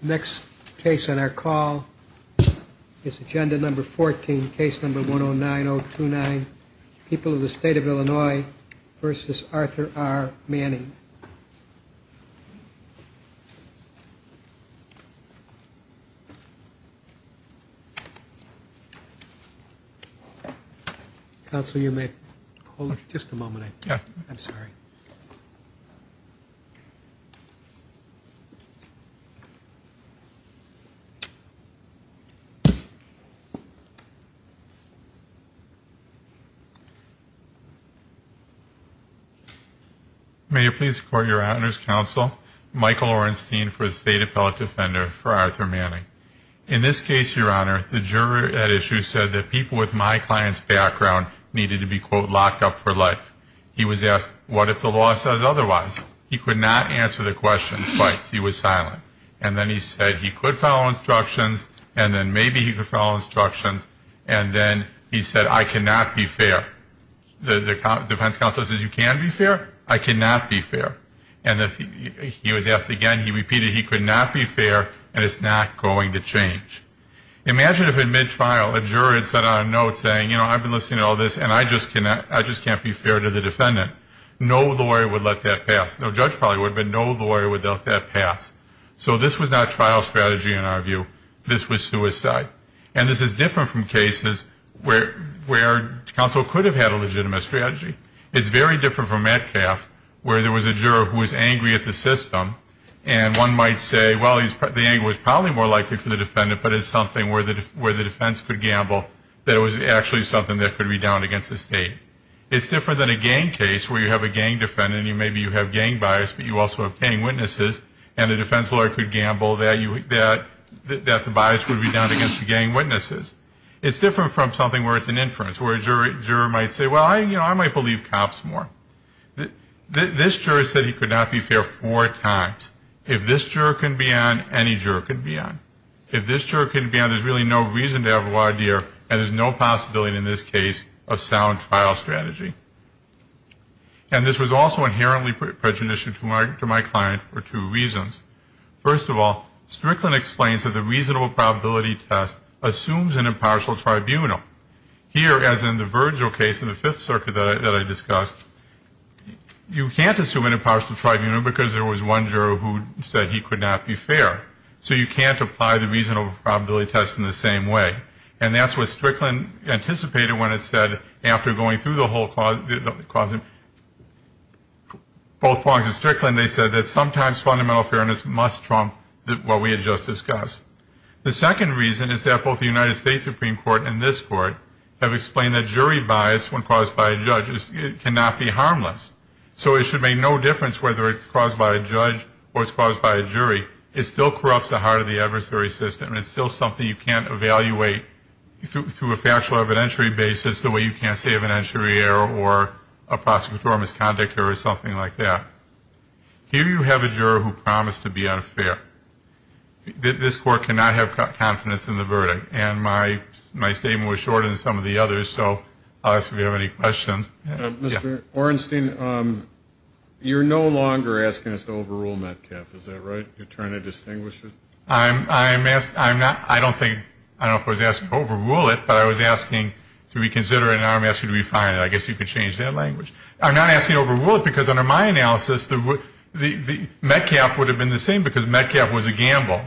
Next case on our call is agenda number 14, case number 109029, People of the State of Illinois v. Arthur R. Manning. Counsel, you may hold it just a moment. I'm sorry. May you please record your honors, counsel? Michael Orenstein for the State Appellate Defender for Arthur Manning. In this case, Your Honor, the juror at issue said that people with my client's background needed to be, quote, locked up for life. He was asked, what if the law said otherwise? He could not answer the question twice. He was silent. And then he said he could follow instructions, and then maybe he could follow instructions, and then he said, I cannot be fair. The defense counsel says you can be fair. I cannot be fair. And he was asked again. He repeated he could not be fair, and it's not going to change. And I just can't be fair to the defendant. No lawyer would let that pass. No judge probably would, but no lawyer would let that pass. So this was not trial strategy in our view. This was suicide. And this is different from cases where counsel could have had a legitimate strategy. It's very different from Metcalfe where there was a juror who was angry at the system, and one might say, well, the anger was probably more likely for the defendant, but it's something where the defense could gamble that it was actually something that could be down against the state. It's different than a gang case where you have a gang defendant, and maybe you have gang bias, but you also have gang witnesses, and a defense lawyer could gamble that the bias would be down against the gang witnesses. It's different from something where it's an inference, where a juror might say, well, I might believe cops more. This juror said he could not be fair four times. If this juror can be on, any juror can be on. If this juror can be on, there's really no reason to have a wide ear, and there's no possibility in this case of sound trial strategy. And this was also inherently prejudicial to my client for two reasons. First of all, Strickland explains that the reasonable probability test assumes an impartial tribunal. Here, as in the Virgil case in the Fifth Circuit that I discussed, you can't assume an impartial tribunal because there was one juror who said he could not be fair. So you can't apply the reasonable probability test in the same way. And that's what Strickland anticipated when it said, after going through the whole cause of both prongs of Strickland, they said that sometimes fundamental fairness must trump what we had just discussed. The second reason is that both the United States Supreme Court and this Court have explained that jury bias, so it should make no difference whether it's caused by a judge or it's caused by a jury. It still corrupts the heart of the adversary system, and it's still something you can't evaluate through a factual evidentiary basis the way you can't say evidentiary error or a prosecutorial misconduct error or something like that. Here you have a juror who promised to be unfair. This Court cannot have confidence in the verdict, and my statement was shorter than some of the others, so I'll ask if you have any questions. Mr. Orenstein, you're no longer asking us to overrule METCAF. Is that right? You're trying to distinguish it? I don't think I was asking to overrule it, but I was asking to reconsider it, and now I'm asking to refine it. I guess you could change that language. I'm not asking to overrule it because under my analysis, METCAF would have been the same because METCAF was a gamble.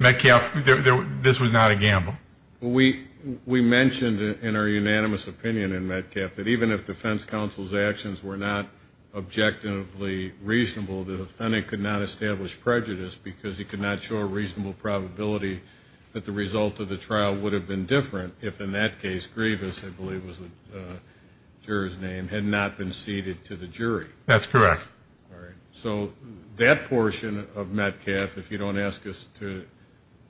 METCAF, this was not a gamble. We mentioned in our unanimous opinion in METCAF that even if defense counsel's actions were not objectively reasonable, the defendant could not establish prejudice because he could not show a reasonable probability that the result of the trial would have been different if, in that case, Grievous, I believe was the juror's name, had not been ceded to the jury. That's correct. All right. So that portion of METCAF, if you don't ask us to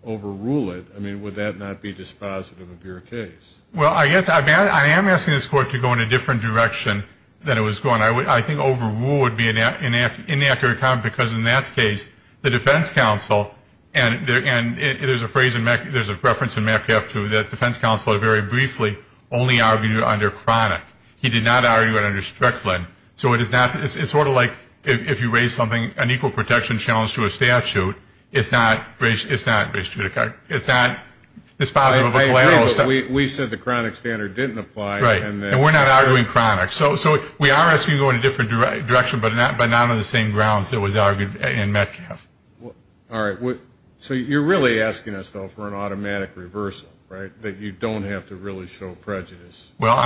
overrule it, I mean, would that not be dispositive of your case? Well, I guess I am asking this court to go in a different direction than it was going. I think overrule would be an inaccurate comment because, in that case, the defense counsel, and there's a reference in METCAF 2 that defense counsel very briefly only argued under Chronic. He did not argue it under Strickland. So it's sort of like if you raise an equal protection challenge to a statute, it's not dispositive of a collateral. We said the Chronic standard didn't apply. Right. And we're not arguing Chronic. So we are asking to go in a different direction, but not on the same grounds that was argued in METCAF. All right. So you're really asking us, though, for an automatic reversal, right, that you don't have to really show prejudice? Well,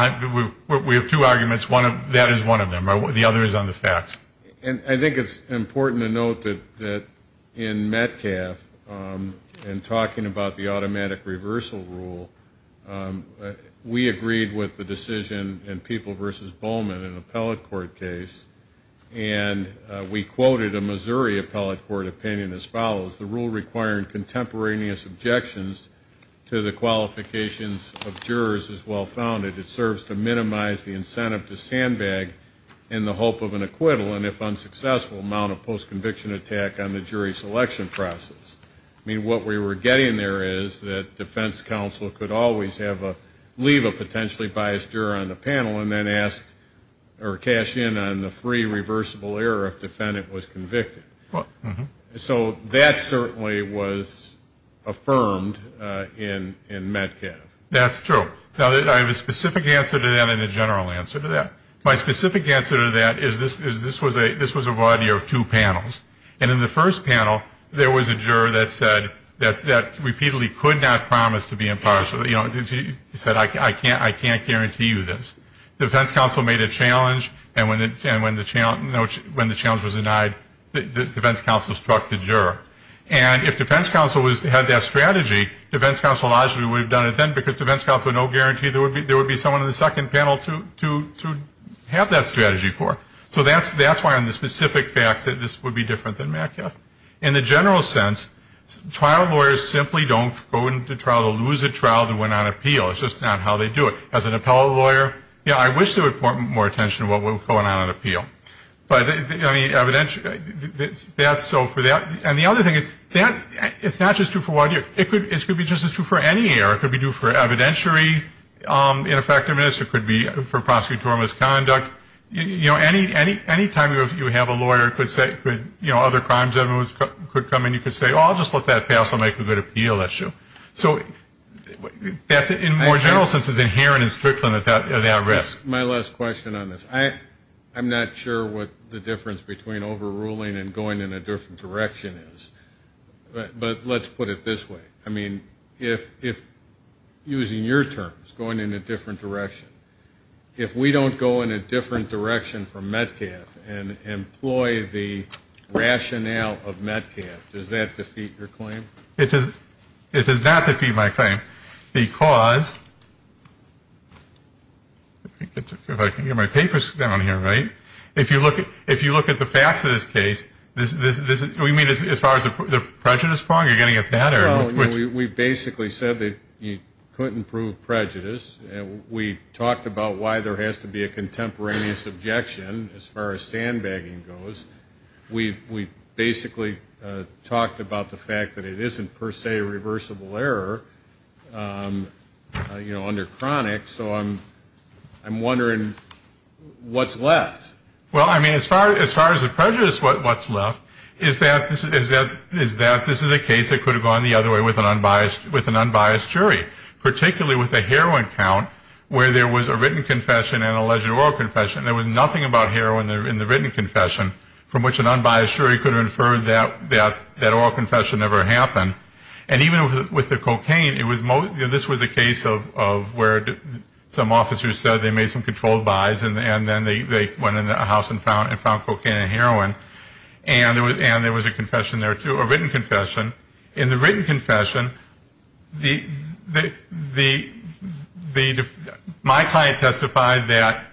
we have two arguments. That is one of them. The other is on the facts. And I think it's important to note that in METCAF, in talking about the automatic reversal rule, we agreed with the decision in People v. Bowman, an appellate court case, and we quoted a Missouri appellate court opinion as follows. The rule requiring contemporaneous objections to the qualifications of jurors is well-founded. It serves to minimize the incentive to sandbag in the hope of an acquittal and, if unsuccessful, mount a post-conviction attack on the jury selection process. I mean, what we were getting there is that defense counsel could always leave a potentially biased juror on the panel and then ask or cash in on the free reversible error if defendant was convicted. So that certainly was affirmed in METCAF. That's true. Now, I have a specific answer to that and a general answer to that. My specific answer to that is this was a variety of two panels. And in the first panel, there was a juror that said that repeatedly could not promise to be impartial. You know, he said, I can't guarantee you this. The defense counsel made a challenge, and when the challenge was denied, the defense counsel struck the juror. And if defense counsel had that strategy, defense counsel largely would have done it then because defense counsel had no guarantee there would be someone on the second panel to have that strategy for. So that's why on the specific facts that this would be different than METCAF. In the general sense, trial lawyers simply don't go into trial to lose a trial that went on appeal. It's just not how they do it. As an appellate lawyer, you know, I wish they would put more attention to what was going on at appeal. But, I mean, evidentially, that's so for that. And the other thing is that it's not just two for one. It could be just as true for any error. It could be due for evidentiary ineffectiveness. It could be for prosecutorial misconduct. You know, any time you have a lawyer that could say, you know, other crimes could come in, you could say, oh, I'll just let that pass. I'll make a good appeal issue. So that's, in more general sense, is inherent in Strickland at that risk. My last question on this. I'm not sure what the difference between overruling and going in a different direction is. But let's put it this way. I mean, if using your terms, going in a different direction, if we don't go in a different direction from Metcalf and employ the rationale of Metcalf, does that defeat your claim? It does not defeat my claim because, if I can get my papers down here right, if you look at the facts of this case, do we mean as far as the prejudice part? Are you getting at that? We basically said that you couldn't prove prejudice. We talked about why there has to be a contemporaneous objection as far as sandbagging goes. We basically talked about the fact that it isn't per se a reversible error, you know, under chronic. So I'm wondering what's left. Well, I mean, as far as the prejudice, what's left is that this is a case that could have gone the other way with an unbiased jury, particularly with the heroin count where there was a written confession and alleged oral confession. There was nothing about heroin in the written confession from which an unbiased jury could have inferred that that oral confession never happened. And even with the cocaine, this was a case of where some officers said they made some controlled buys and then they went in the house and found cocaine and heroin, and there was a confession there too, a written confession. In the written confession, my client testified that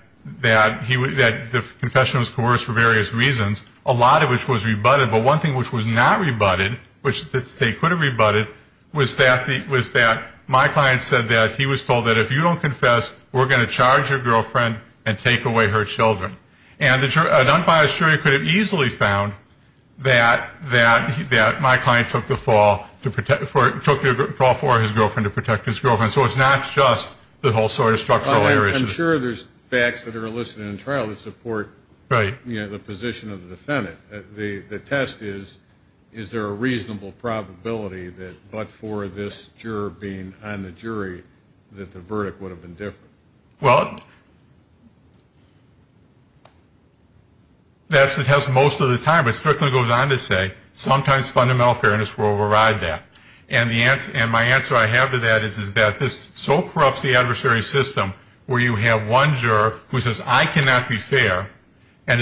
the confession was coerced for various reasons, a lot of which was rebutted, but one thing which was not rebutted, which they could have rebutted, was that my client said that he was told that if you don't confess, we're going to charge your girlfriend and take away her children. And an unbiased jury could have easily found that my client took the fall for his girlfriend to protect his girlfriend. So it's not just the whole sort of structural error issue. I'm sure there's facts that are listed in the trial that support the position of the defendant. The test is, is there a reasonable probability that but for this juror being on the jury that the verdict would have been different? Well, that's the test most of the time. It strictly goes on to say sometimes fundamental fairness will override that. And my answer I have to that is that this so corrupts the adversary system where you have one juror who says I cannot be fair and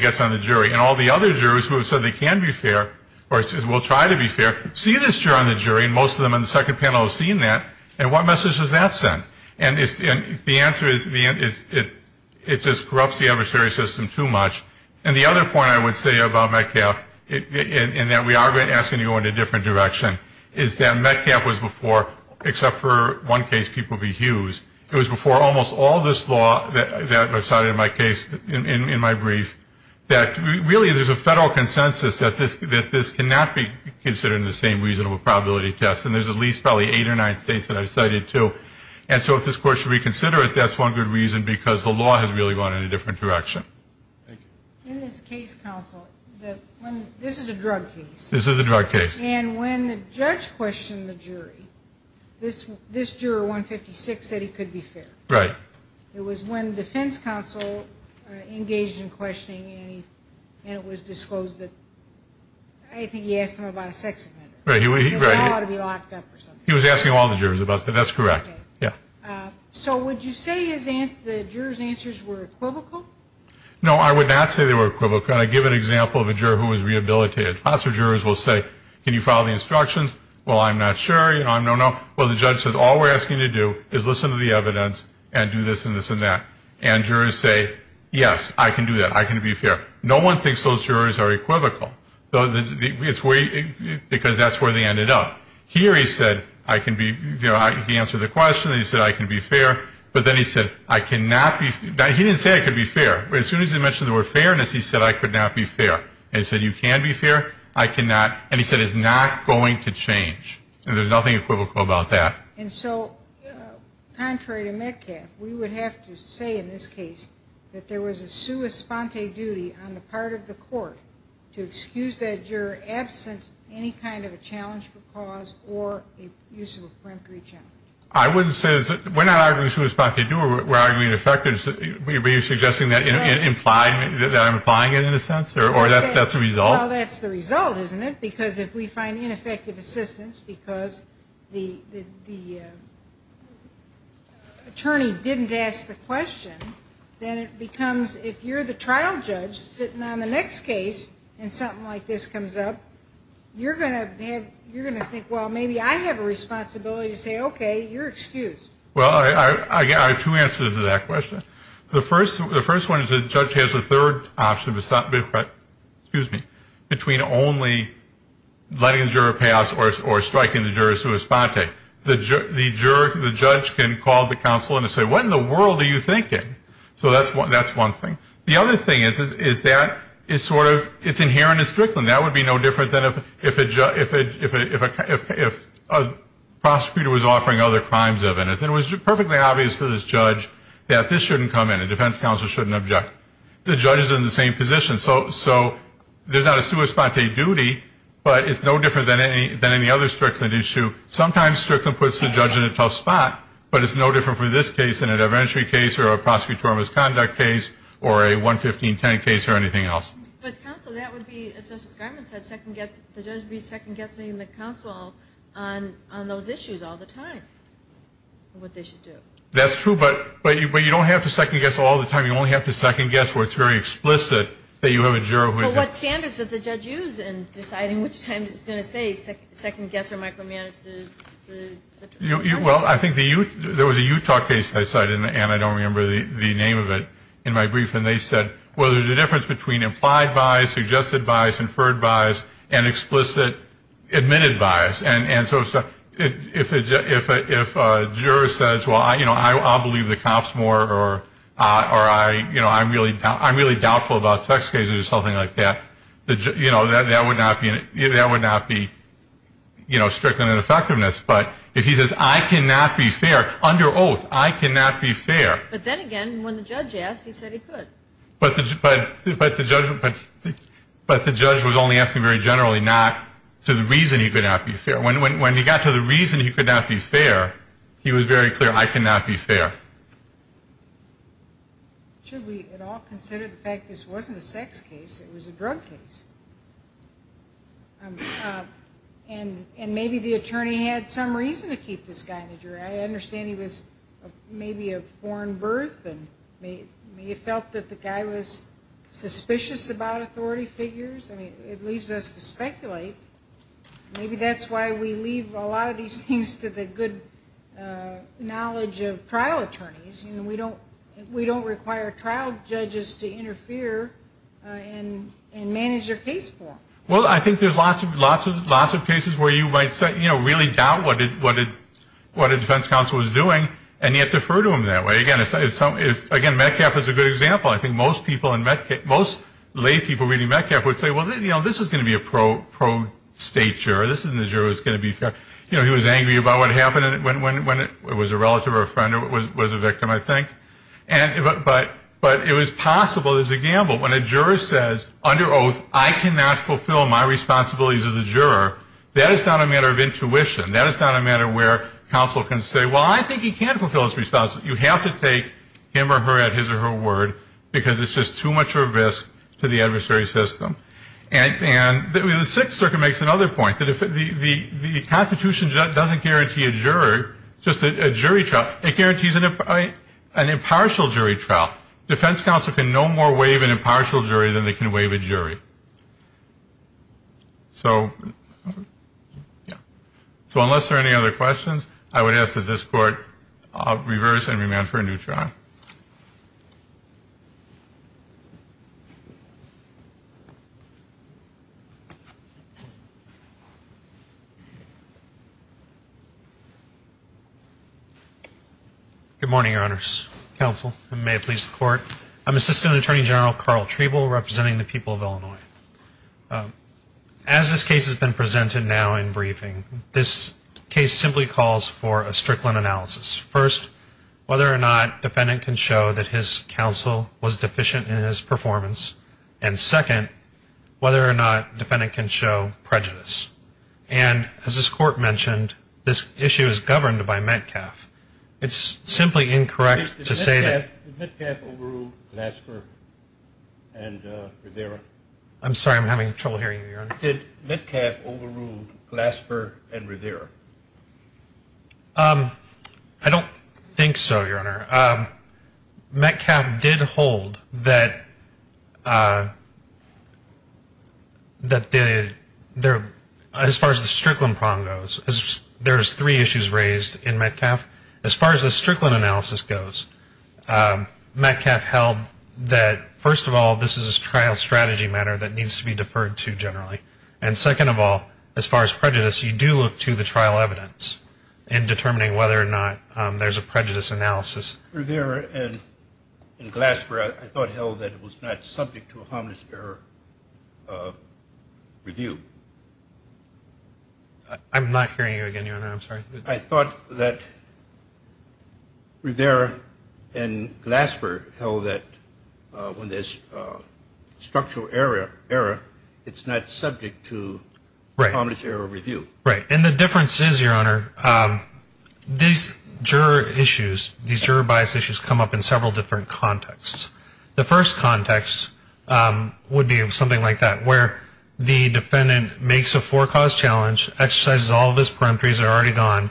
gets on the jury, and all the other jurors who have said they can be fair or will try to be fair see this juror on the jury, and most of them on the second panel have seen that, and what message does that send? And the answer is it just corrupts the adversary system too much. And the other point I would say about Metcalfe, and that we are asking to go in a different direction, is that Metcalfe was before, except for one case, Peabody Hughes, it was before almost all this law that I've cited in my case, in my brief, that really there's a federal consensus that this cannot be considered in the same reasonable probability test, and there's at least probably eight or nine states that I've cited too. And so if this court should reconsider it, that's one good reason, because the law has really gone in a different direction. Thank you. In this case, counsel, this is a drug case. This is a drug case. And when the judge questioned the jury, this juror, 156, said he could be fair. Right. It was when defense counsel engaged in questioning, and it was disclosed that I think he asked him about a sex offender. Right. He said the law ought to be locked up or something. He was asking all the jurors about that. That's correct. Yeah. So would you say the jurors' answers were equivocal? No, I would not say they were equivocal. I give an example of a juror who was rehabilitated. Lots of jurors will say, can you follow the instructions? Well, I'm not sure. No, no, no. Well, the judge says all we're asking you to do is listen to the evidence and do this and this and that. And jurors say, yes, I can do that. I can be fair. No one thinks those jurors are equivocal, because that's where they ended up. Here he said, I can be, you know, he answered the question. He said, I can be fair. But then he said, I cannot be, he didn't say I could be fair. But as soon as he mentioned the word fairness, he said, I could not be fair. And he said, you can be fair. I cannot. And he said, it's not going to change. And there's nothing equivocal about that. And so contrary to Metcalfe, we would have to say in this case that there was a sua sponte duty on the part of the court to excuse that juror absent any kind of a challenge for cause or a use of a peremptory challenge. I wouldn't say, we're not arguing sua sponte due, we're arguing effective. Are you suggesting that implied, that I'm implying it in a sense, or that's the result? Well, that's the result, isn't it? Because if we find ineffective assistance because the attorney didn't ask the question, then it becomes, if you're the trial judge sitting on the next case and something like this comes up, you're going to think, well, maybe I have a responsibility to say, okay, you're excused. Well, I have two answers to that question. The first one is the judge has a third option between only letting the juror pass or striking the juror sua sponte. The judge can call the counsel and say, what in the world are you thinking? So that's one thing. The other thing is that it's inherent in Strickland. That would be no different than if a prosecutor was offering other crimes of innocence. It was perfectly obvious to this judge that this shouldn't come in and defense counsel shouldn't object. The judge is in the same position. So there's not a sua sponte duty, but it's no different than any other Strickland issue. Sometimes Strickland puts the judge in a tough spot, but it's no different for this case than an evidentiary case or a prosecutorial misconduct case or a 11510 case or anything else. But counsel, that would be, as Justice Garland said, the judge would be second-guessing the counsel on those issues all the time, what they should do. That's true, but you don't have to second-guess all the time. You only have to second-guess where it's very explicit that you have a juror. Well, what standards does the judge use in deciding which time he's going to say second-guess or micromanage the jurors? Well, I think there was a Utah case I cited, and I don't remember the name of it, in my brief, and they said, well, there's a difference between implied bias, suggested bias, inferred bias, and explicit admitted bias. And so if a juror says, well, you know, I'll believe the cops more or, you know, I'm really doubtful about sex cases or something like that, you know, that would not be, you know, stricken in effectiveness. But if he says, I cannot be fair, under oath, I cannot be fair. But then again, when the judge asked, he said he could. But the judge was only asking very generally, not to the reason he could not be fair. When he got to the reason he could not be fair, he was very clear, I cannot be fair. Should we at all consider the fact this wasn't a sex case, it was a drug case? And maybe the attorney had some reason to keep this guy in the jury. I understand he was maybe of foreign birth, and he felt that the guy was suspicious about authority figures. I mean, it leaves us to speculate. Maybe that's why we leave a lot of these things to the good knowledge of trial attorneys. You know, we don't require trial judges to interfere and manage their case for them. Well, I think there's lots of cases where you might, you know, really doubt what a defense counsel is doing and yet defer to them that way. Again, Metcalfe is a good example. I think most people in Metcalfe, most lay people reading Metcalfe would say, well, you know, this is going to be a pro-state juror. This isn't a juror who's going to be fair. You know, he was angry about what happened when it was a relative or a friend or was a victim, I think. But it was possible, there's a gamble. When a juror says, under oath, I cannot fulfill my responsibilities as a juror, that is not a matter of intuition. That is not a matter where counsel can say, well, I think he can fulfill his responsibilities. You have to take him or her at his or her word because it's just too much of a risk to the adversary system. And the Sixth Circuit makes another point, that the Constitution doesn't guarantee a juror just a jury trial. It guarantees an impartial jury trial. Defense counsel can no more waive an impartial jury than they can waive a jury. So unless there are any other questions, I would ask that this Court reverse and remand for a new trial. Good morning, Your Honors. Counsel, and may it please the Court. I'm Assistant Attorney General Carl Treble representing the people of Illinois. As this case has been presented now in briefing, this case simply calls for a Strickland analysis. First, whether or not defendant can show that his counsel was deficient in his performance. And second, whether or not defendant can show prejudice. And as this Court mentioned, this issue is governed by Metcalf. It's simply incorrect to say that. Did Metcalf overrule Glasper and Rivera? I'm sorry, I'm having trouble hearing you, Your Honor. Did Metcalf overrule Glasper and Rivera? I don't think so, Your Honor. Metcalf did hold that as far as the Strickland problem goes, there's three issues raised in Metcalf. As far as the Strickland analysis goes, Metcalf held that, first of all, this is a trial strategy matter that needs to be deferred to generally. And second of all, as far as prejudice, you do look to the trial evidence in determining whether or not there's a prejudice analysis. Rivera and Glasper, I thought, held that it was not subject to a harmless error review. I'm not hearing you again, Your Honor. I'm sorry. I thought that Rivera and Glasper held that when there's structural error, it's not subject to harmless error review. Right. And the difference is, Your Honor, these juror issues, these juror bias issues come up in several different contexts. The first context would be something like that, where the defendant makes a forecast challenge, exercises all of his peremptories, they're already gone,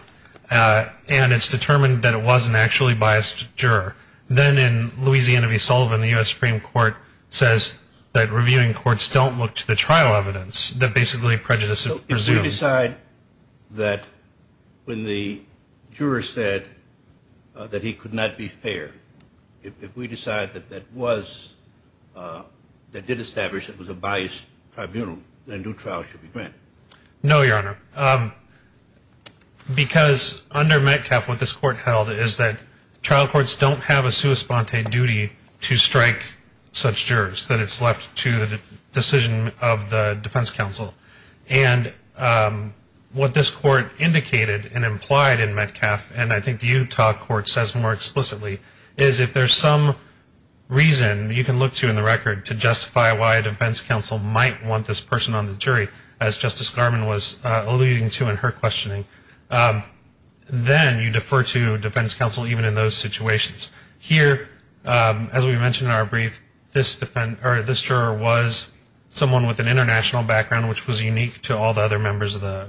and it's determined that it was an actually biased juror. Then in Louisiana v. Sullivan, the U.S. Supreme Court says that reviewing courts don't look to the trial evidence, that basically prejudice is presumed. So if we decide that when the juror said that he could not be fair, if we decide that that was, that did establish it was a biased tribunal, then due trial should be granted. No, Your Honor, because under Metcalfe, what this court held is that trial courts don't have a sua sponte duty to strike such jurors, that it's left to the decision of the defense counsel. And what this court indicated and implied in Metcalfe, and I think the Utah court says more explicitly, is if there's some reason you can look to in the record to justify why a defense counsel might want this person on the jury, as Justice Garmon was alluding to in her questioning, then you defer to defense counsel even in those situations. Here, as we mentioned in our brief, this juror was someone with an international background, which was unique to all the other members of the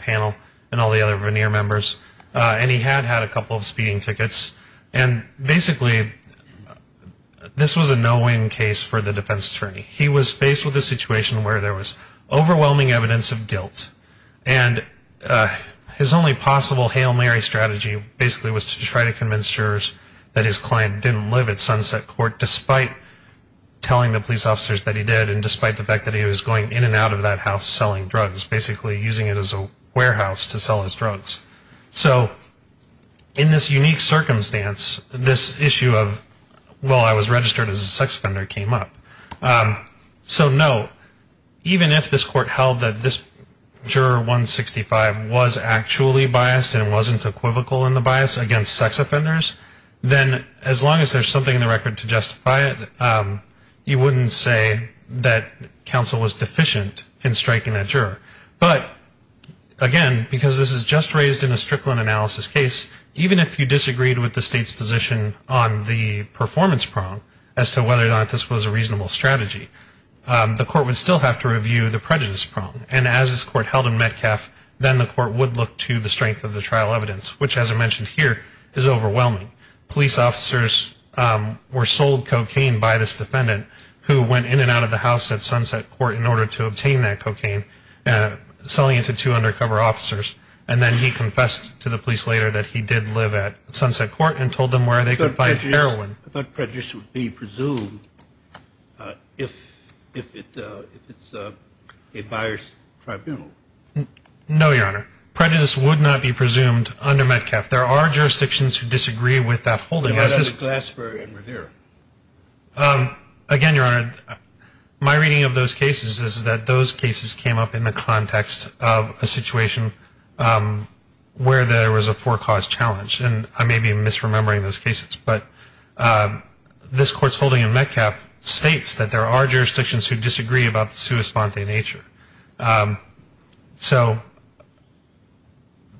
panel and all the other veneer members, and he had had a couple of speeding tickets. And basically this was a no-win case for the defense attorney. He was faced with a situation where there was overwhelming evidence of guilt, and his only possible Hail Mary strategy basically was to try to convince jurors that his client didn't live at Sunset Court despite telling the police officers that he did and despite the fact that he was going in and out of that house selling drugs, basically using it as a warehouse to sell his drugs. So in this unique circumstance, this issue of, well, I was registered as a sex offender came up. So no, even if this court held that this juror 165 was actually biased and wasn't equivocal in the bias against sex offenders, then as long as there's something in the record to justify it, you wouldn't say that counsel was deficient in striking that juror. But again, because this is just raised in a Strickland analysis case, even if you disagreed with the state's position on the performance prong as to whether or not this was a reasonable strategy, the court would still have to review the prejudice prong. And as this court held in Metcalf, then the court would look to the strength of the trial evidence, which, as I mentioned here, is overwhelming. Police officers were sold cocaine by this defendant who went in and out of the house at Sunset Court in order to obtain that cocaine, selling it to two undercover officers. And then he confessed to the police later that he did live at Sunset Court and told them where they could find heroin. I thought prejudice would be presumed if it's a biased tribunal. No, Your Honor. Prejudice would not be presumed under Metcalf. There are jurisdictions who disagree with that holding. What about Glasper and Rivera? Again, Your Honor, my reading of those cases is that those cases came up in the context of a situation where there was a forecaused challenge, and I may be misremembering those cases. But this court's holding in Metcalf states that there are jurisdictions who disagree about the sua sponte nature. So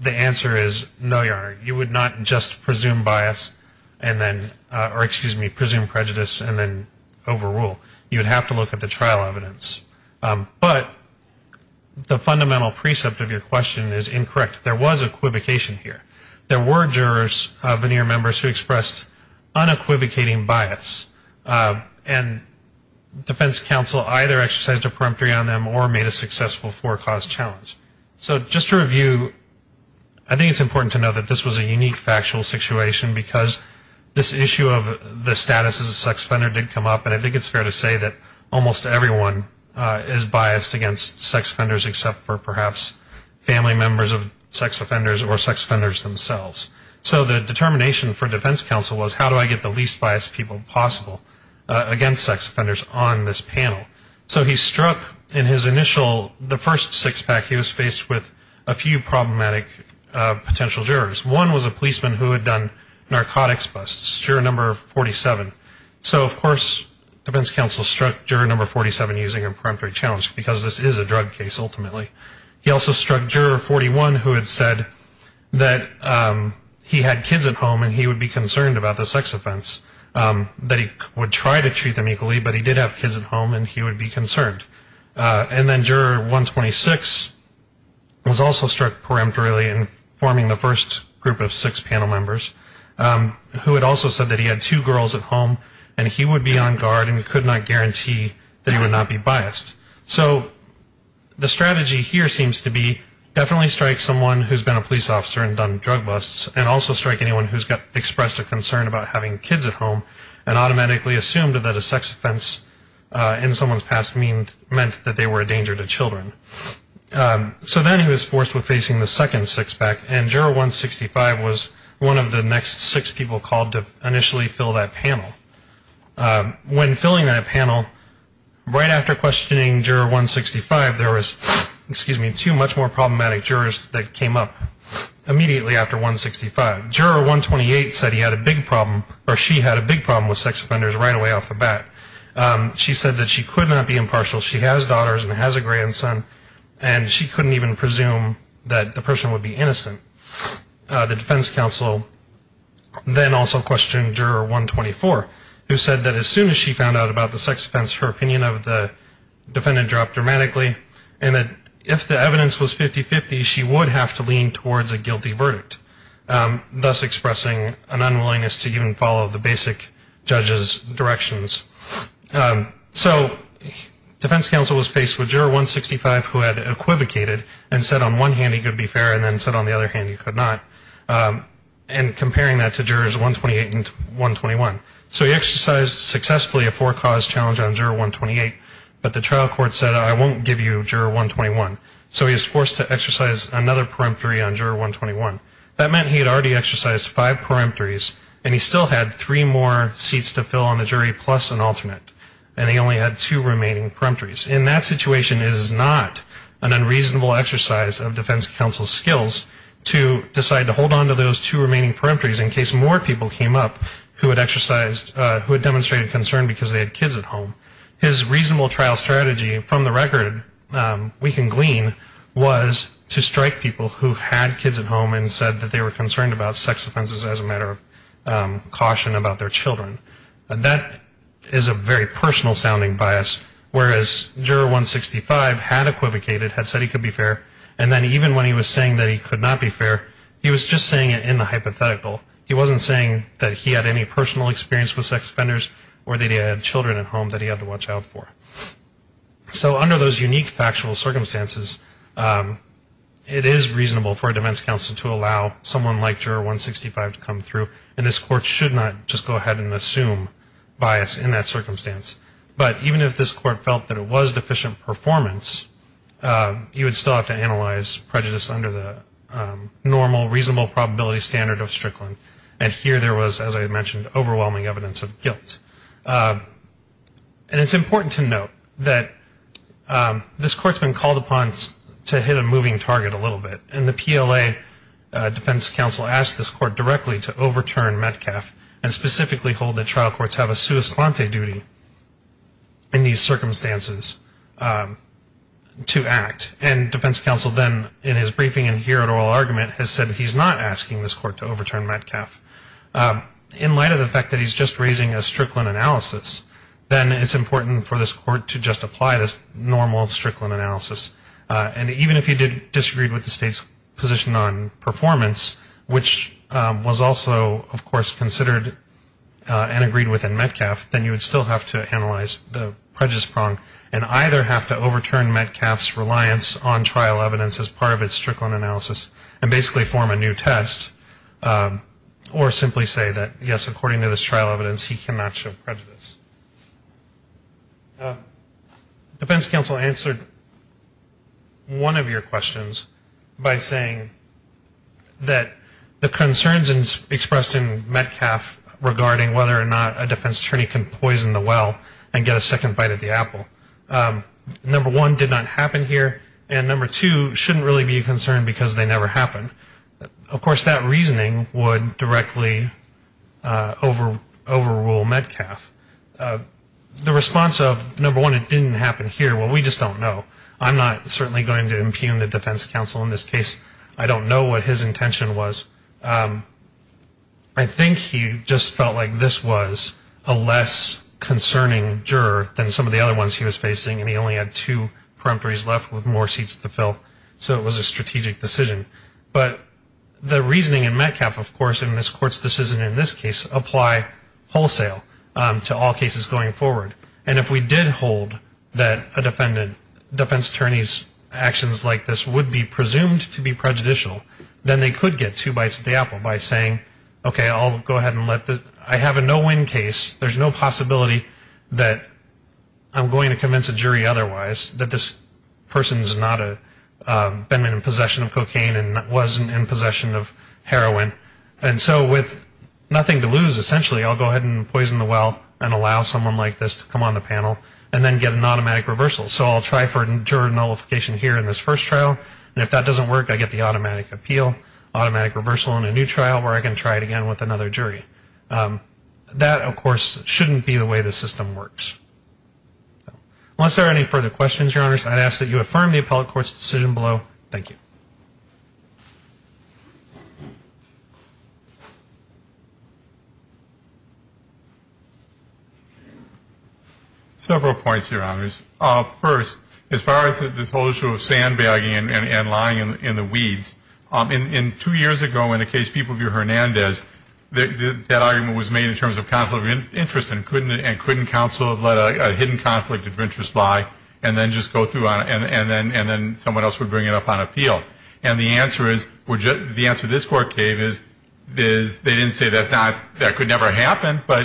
the answer is no, Your Honor. You would not just presume bias and then or, excuse me, presume prejudice and then overrule. You would have to look at the trial evidence. But the fundamental precept of your question is incorrect. There was equivocation here. There were jurors, veneer members, who expressed unequivocating bias. And defense counsel either exercised a peremptory on them or made a successful forecaused challenge. So just to review, I think it's important to know that this was a unique factual situation because this issue of the status as a sex offender did come up, and I think it's fair to say that almost everyone is biased against sex offenders except for perhaps family members of sex offenders or sex offenders themselves. So the determination for defense counsel was how do I get the least biased people possible against sex offenders on this panel. So he struck in his initial, the first six-pack, he was faced with a few problematic potential jurors. One was a policeman who had done narcotics busts, juror number 47. So, of course, defense counsel struck juror number 47 using a peremptory challenge because this is a drug case ultimately. He also struck juror 41 who had said that he had kids at home and he would be concerned about the sex offense, that he would try to treat them equally, but he did have kids at home and he would be concerned. And then juror 126 was also struck peremptorily in forming the first group of six panel members, who had also said that he had two girls at home and he would be on guard and could not guarantee that he would not be biased. So the strategy here seems to be definitely strike someone who has been a police officer and done drug busts and also strike anyone who has expressed a concern about having kids at home and automatically assumed that a sex offense in someone's past meant that they were a danger to children. So then he was forced with facing the second six-pack, and juror 165 was one of the next six people called to initially fill that panel. When filling that panel, right after questioning juror 165, there was two much more problematic jurors that came up immediately after 165. Juror 128 said he had a big problem, or she had a big problem with sex offenders right away off the bat. She said that she could not be impartial, she has daughters and has a grandson, and she couldn't even presume that the person would be innocent. The defense counsel then also questioned juror 124, who said that as soon as she found out about the sex offense, her opinion of the defendant dropped dramatically, and that if the evidence was 50-50, she would have to lean towards a guilty verdict, thus expressing an unwillingness to even follow the basic judge's directions. So defense counsel was faced with juror 165, who had equivocated, and said on one hand he could be fair, and then said on the other hand he could not, and comparing that to jurors 128 and 121. So he exercised successfully a four-cause challenge on juror 128, but the trial court said I won't give you juror 121. So he was forced to exercise another peremptory on juror 121. That meant he had already exercised five peremptories, and he still had three more seats to fill on the jury plus an alternate, and he only had two remaining peremptories. In that situation, it is not an unreasonable exercise of defense counsel's skills to decide to hold on to those two remaining peremptories in case more people came up who had exercised, who had demonstrated concern because they had kids at home. His reasonable trial strategy, from the record, we can glean, was to strike people who had kids at home and said that they were concerned about sex offenses as a matter of caution about their children. That is a very personal-sounding bias, whereas juror 165 had equivocated, had said he could be fair, and then even when he was saying that he could not be fair, he was just saying it in the hypothetical. He wasn't saying that he had any personal experience with sex offenders or that he had children at home that he had to watch out for. So under those unique factual circumstances, it is reasonable for a defense counsel to allow someone like juror 165 to come through, and this court should not just go ahead and assume bias in that circumstance. But even if this court felt that it was deficient performance, you would still have to analyze prejudice under the normal, reasonable probability standard of Strickland. And here there was, as I mentioned, overwhelming evidence of guilt. And it's important to note that this court's been called upon to hit a moving target a little bit, and the PLA defense counsel asked this court directly to overturn Metcalf and specifically hold that trial courts have a sua squante duty in these circumstances to act. And defense counsel then, in his briefing in here at oral argument, has said he's not asking this court to overturn Metcalf. In light of the fact that he's just raising a Strickland analysis, then it's important for this court to just apply the normal Strickland analysis. And even if he disagreed with the state's position on performance, which was also, of course, considered and agreed with in Metcalf, then you would still have to analyze the prejudice prong and either have to overturn Metcalf's reliance on trial evidence as part of its Strickland analysis and basically form a new test, or simply say that, yes, according to this trial evidence, he cannot show prejudice. Defense counsel answered one of your questions by saying that the concerns expressed in Metcalf regarding whether or not a defense attorney can poison the well and get a second bite at the apple, number one, did not happen here, and number two, shouldn't really be a concern because they never happened. Of course, that reasoning would directly overrule Metcalf. The response of, number one, it didn't happen here, well, we just don't know. I'm not certainly going to impugn the defense counsel in this case. I don't know what his intention was. I think he just felt like this was a less concerning juror than some of the other ones he was facing, and he only had two peremptories left with more seats to fill, so it was a strategic decision. But the reasoning in Metcalf, of course, in this court's decision in this case, apply wholesale to all cases going forward, and if we did hold that a defense attorney's actions like this would be presumed to be prejudicial, then they could get two bites at the apple by saying, okay, I'll go ahead and let the, I have a no-win case, there's no possibility that I'm going to convince a jury otherwise, that this person has not been in possession of cocaine and wasn't in possession of heroin. And so with nothing to lose, essentially, I'll go ahead and poison the well and allow someone like this to come on the panel and then get an automatic reversal. So I'll try for a juror nullification here in this first trial, and if that doesn't work, I get the automatic appeal, automatic reversal in a new trial where I can try it again with another jury. That, of course, shouldn't be the way the system works. Unless there are any further questions, Your Honors, I'd ask that you affirm the appellate court's decision below. Thank you. Several points, Your Honors. First, as far as this whole issue of sandbagging and lying in the weeds, two years ago in a case, People v. Hernandez, that argument was made in terms of conflict of interest and couldn't counsel have let a hidden conflict of interest lie and then just go through on it and then someone else would bring it up on appeal. And the answer this Court gave is they didn't say that could never happen, but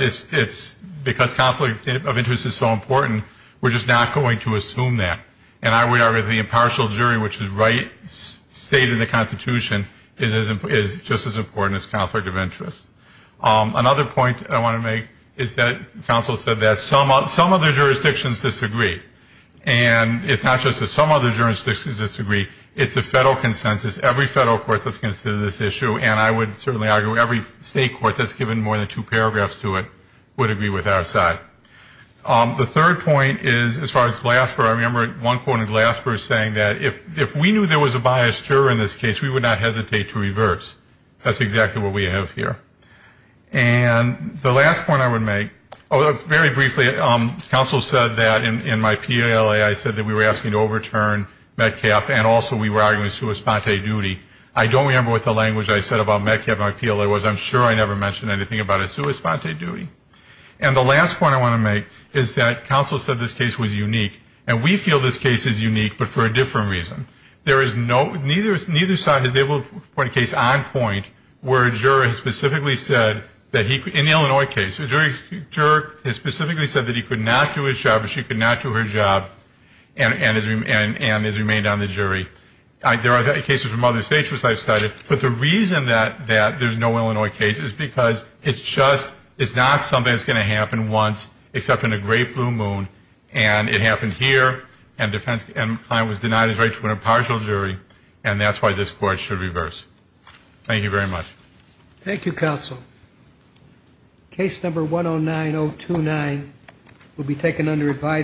because conflict of interest is so important, we're just not going to assume that. And the impartial jury, which is the right state in the Constitution, is just as important as conflict of interest. Another point I want to make is that counsel said that some other jurisdictions disagree. And it's not just that some other jurisdictions disagree. It's a federal consensus. Every federal court that's considered this issue, and I would certainly argue every state court that's given more than two paragraphs to it, would agree with our side. The third point is, as far as Glasper, I remember one quote in Glasper saying that if we knew there was a biased juror in this case, we would not hesitate to reverse. That's exactly what we have here. And the last point I would make, very briefly, counsel said that in my PLA I said that we were asking to overturn Metcalf and also we were arguing a sua sponte duty. I don't remember what the language I said about Metcalf in my PLA was. I'm sure I never mentioned anything about a sua sponte duty. And the last point I want to make is that counsel said this case was unique, and we feel this case is unique, but for a different reason. There is no ñ neither side has been able to put a case on point where a juror has specifically said that he ñ in the Illinois case, a juror has specifically said that he could not do his job or she could not do her job and has remained on the jury. There are cases from other states, which I've cited, but the reason that there's no Illinois case is because it's just ñ it's not something that's going to happen once except in a great blue moon, and it happened here and defense ñ and the client was denied his right to an impartial jury, and that's why this court should reverse. Thank you very much. Thank you, counsel. Case number 109029 will be taken under revise.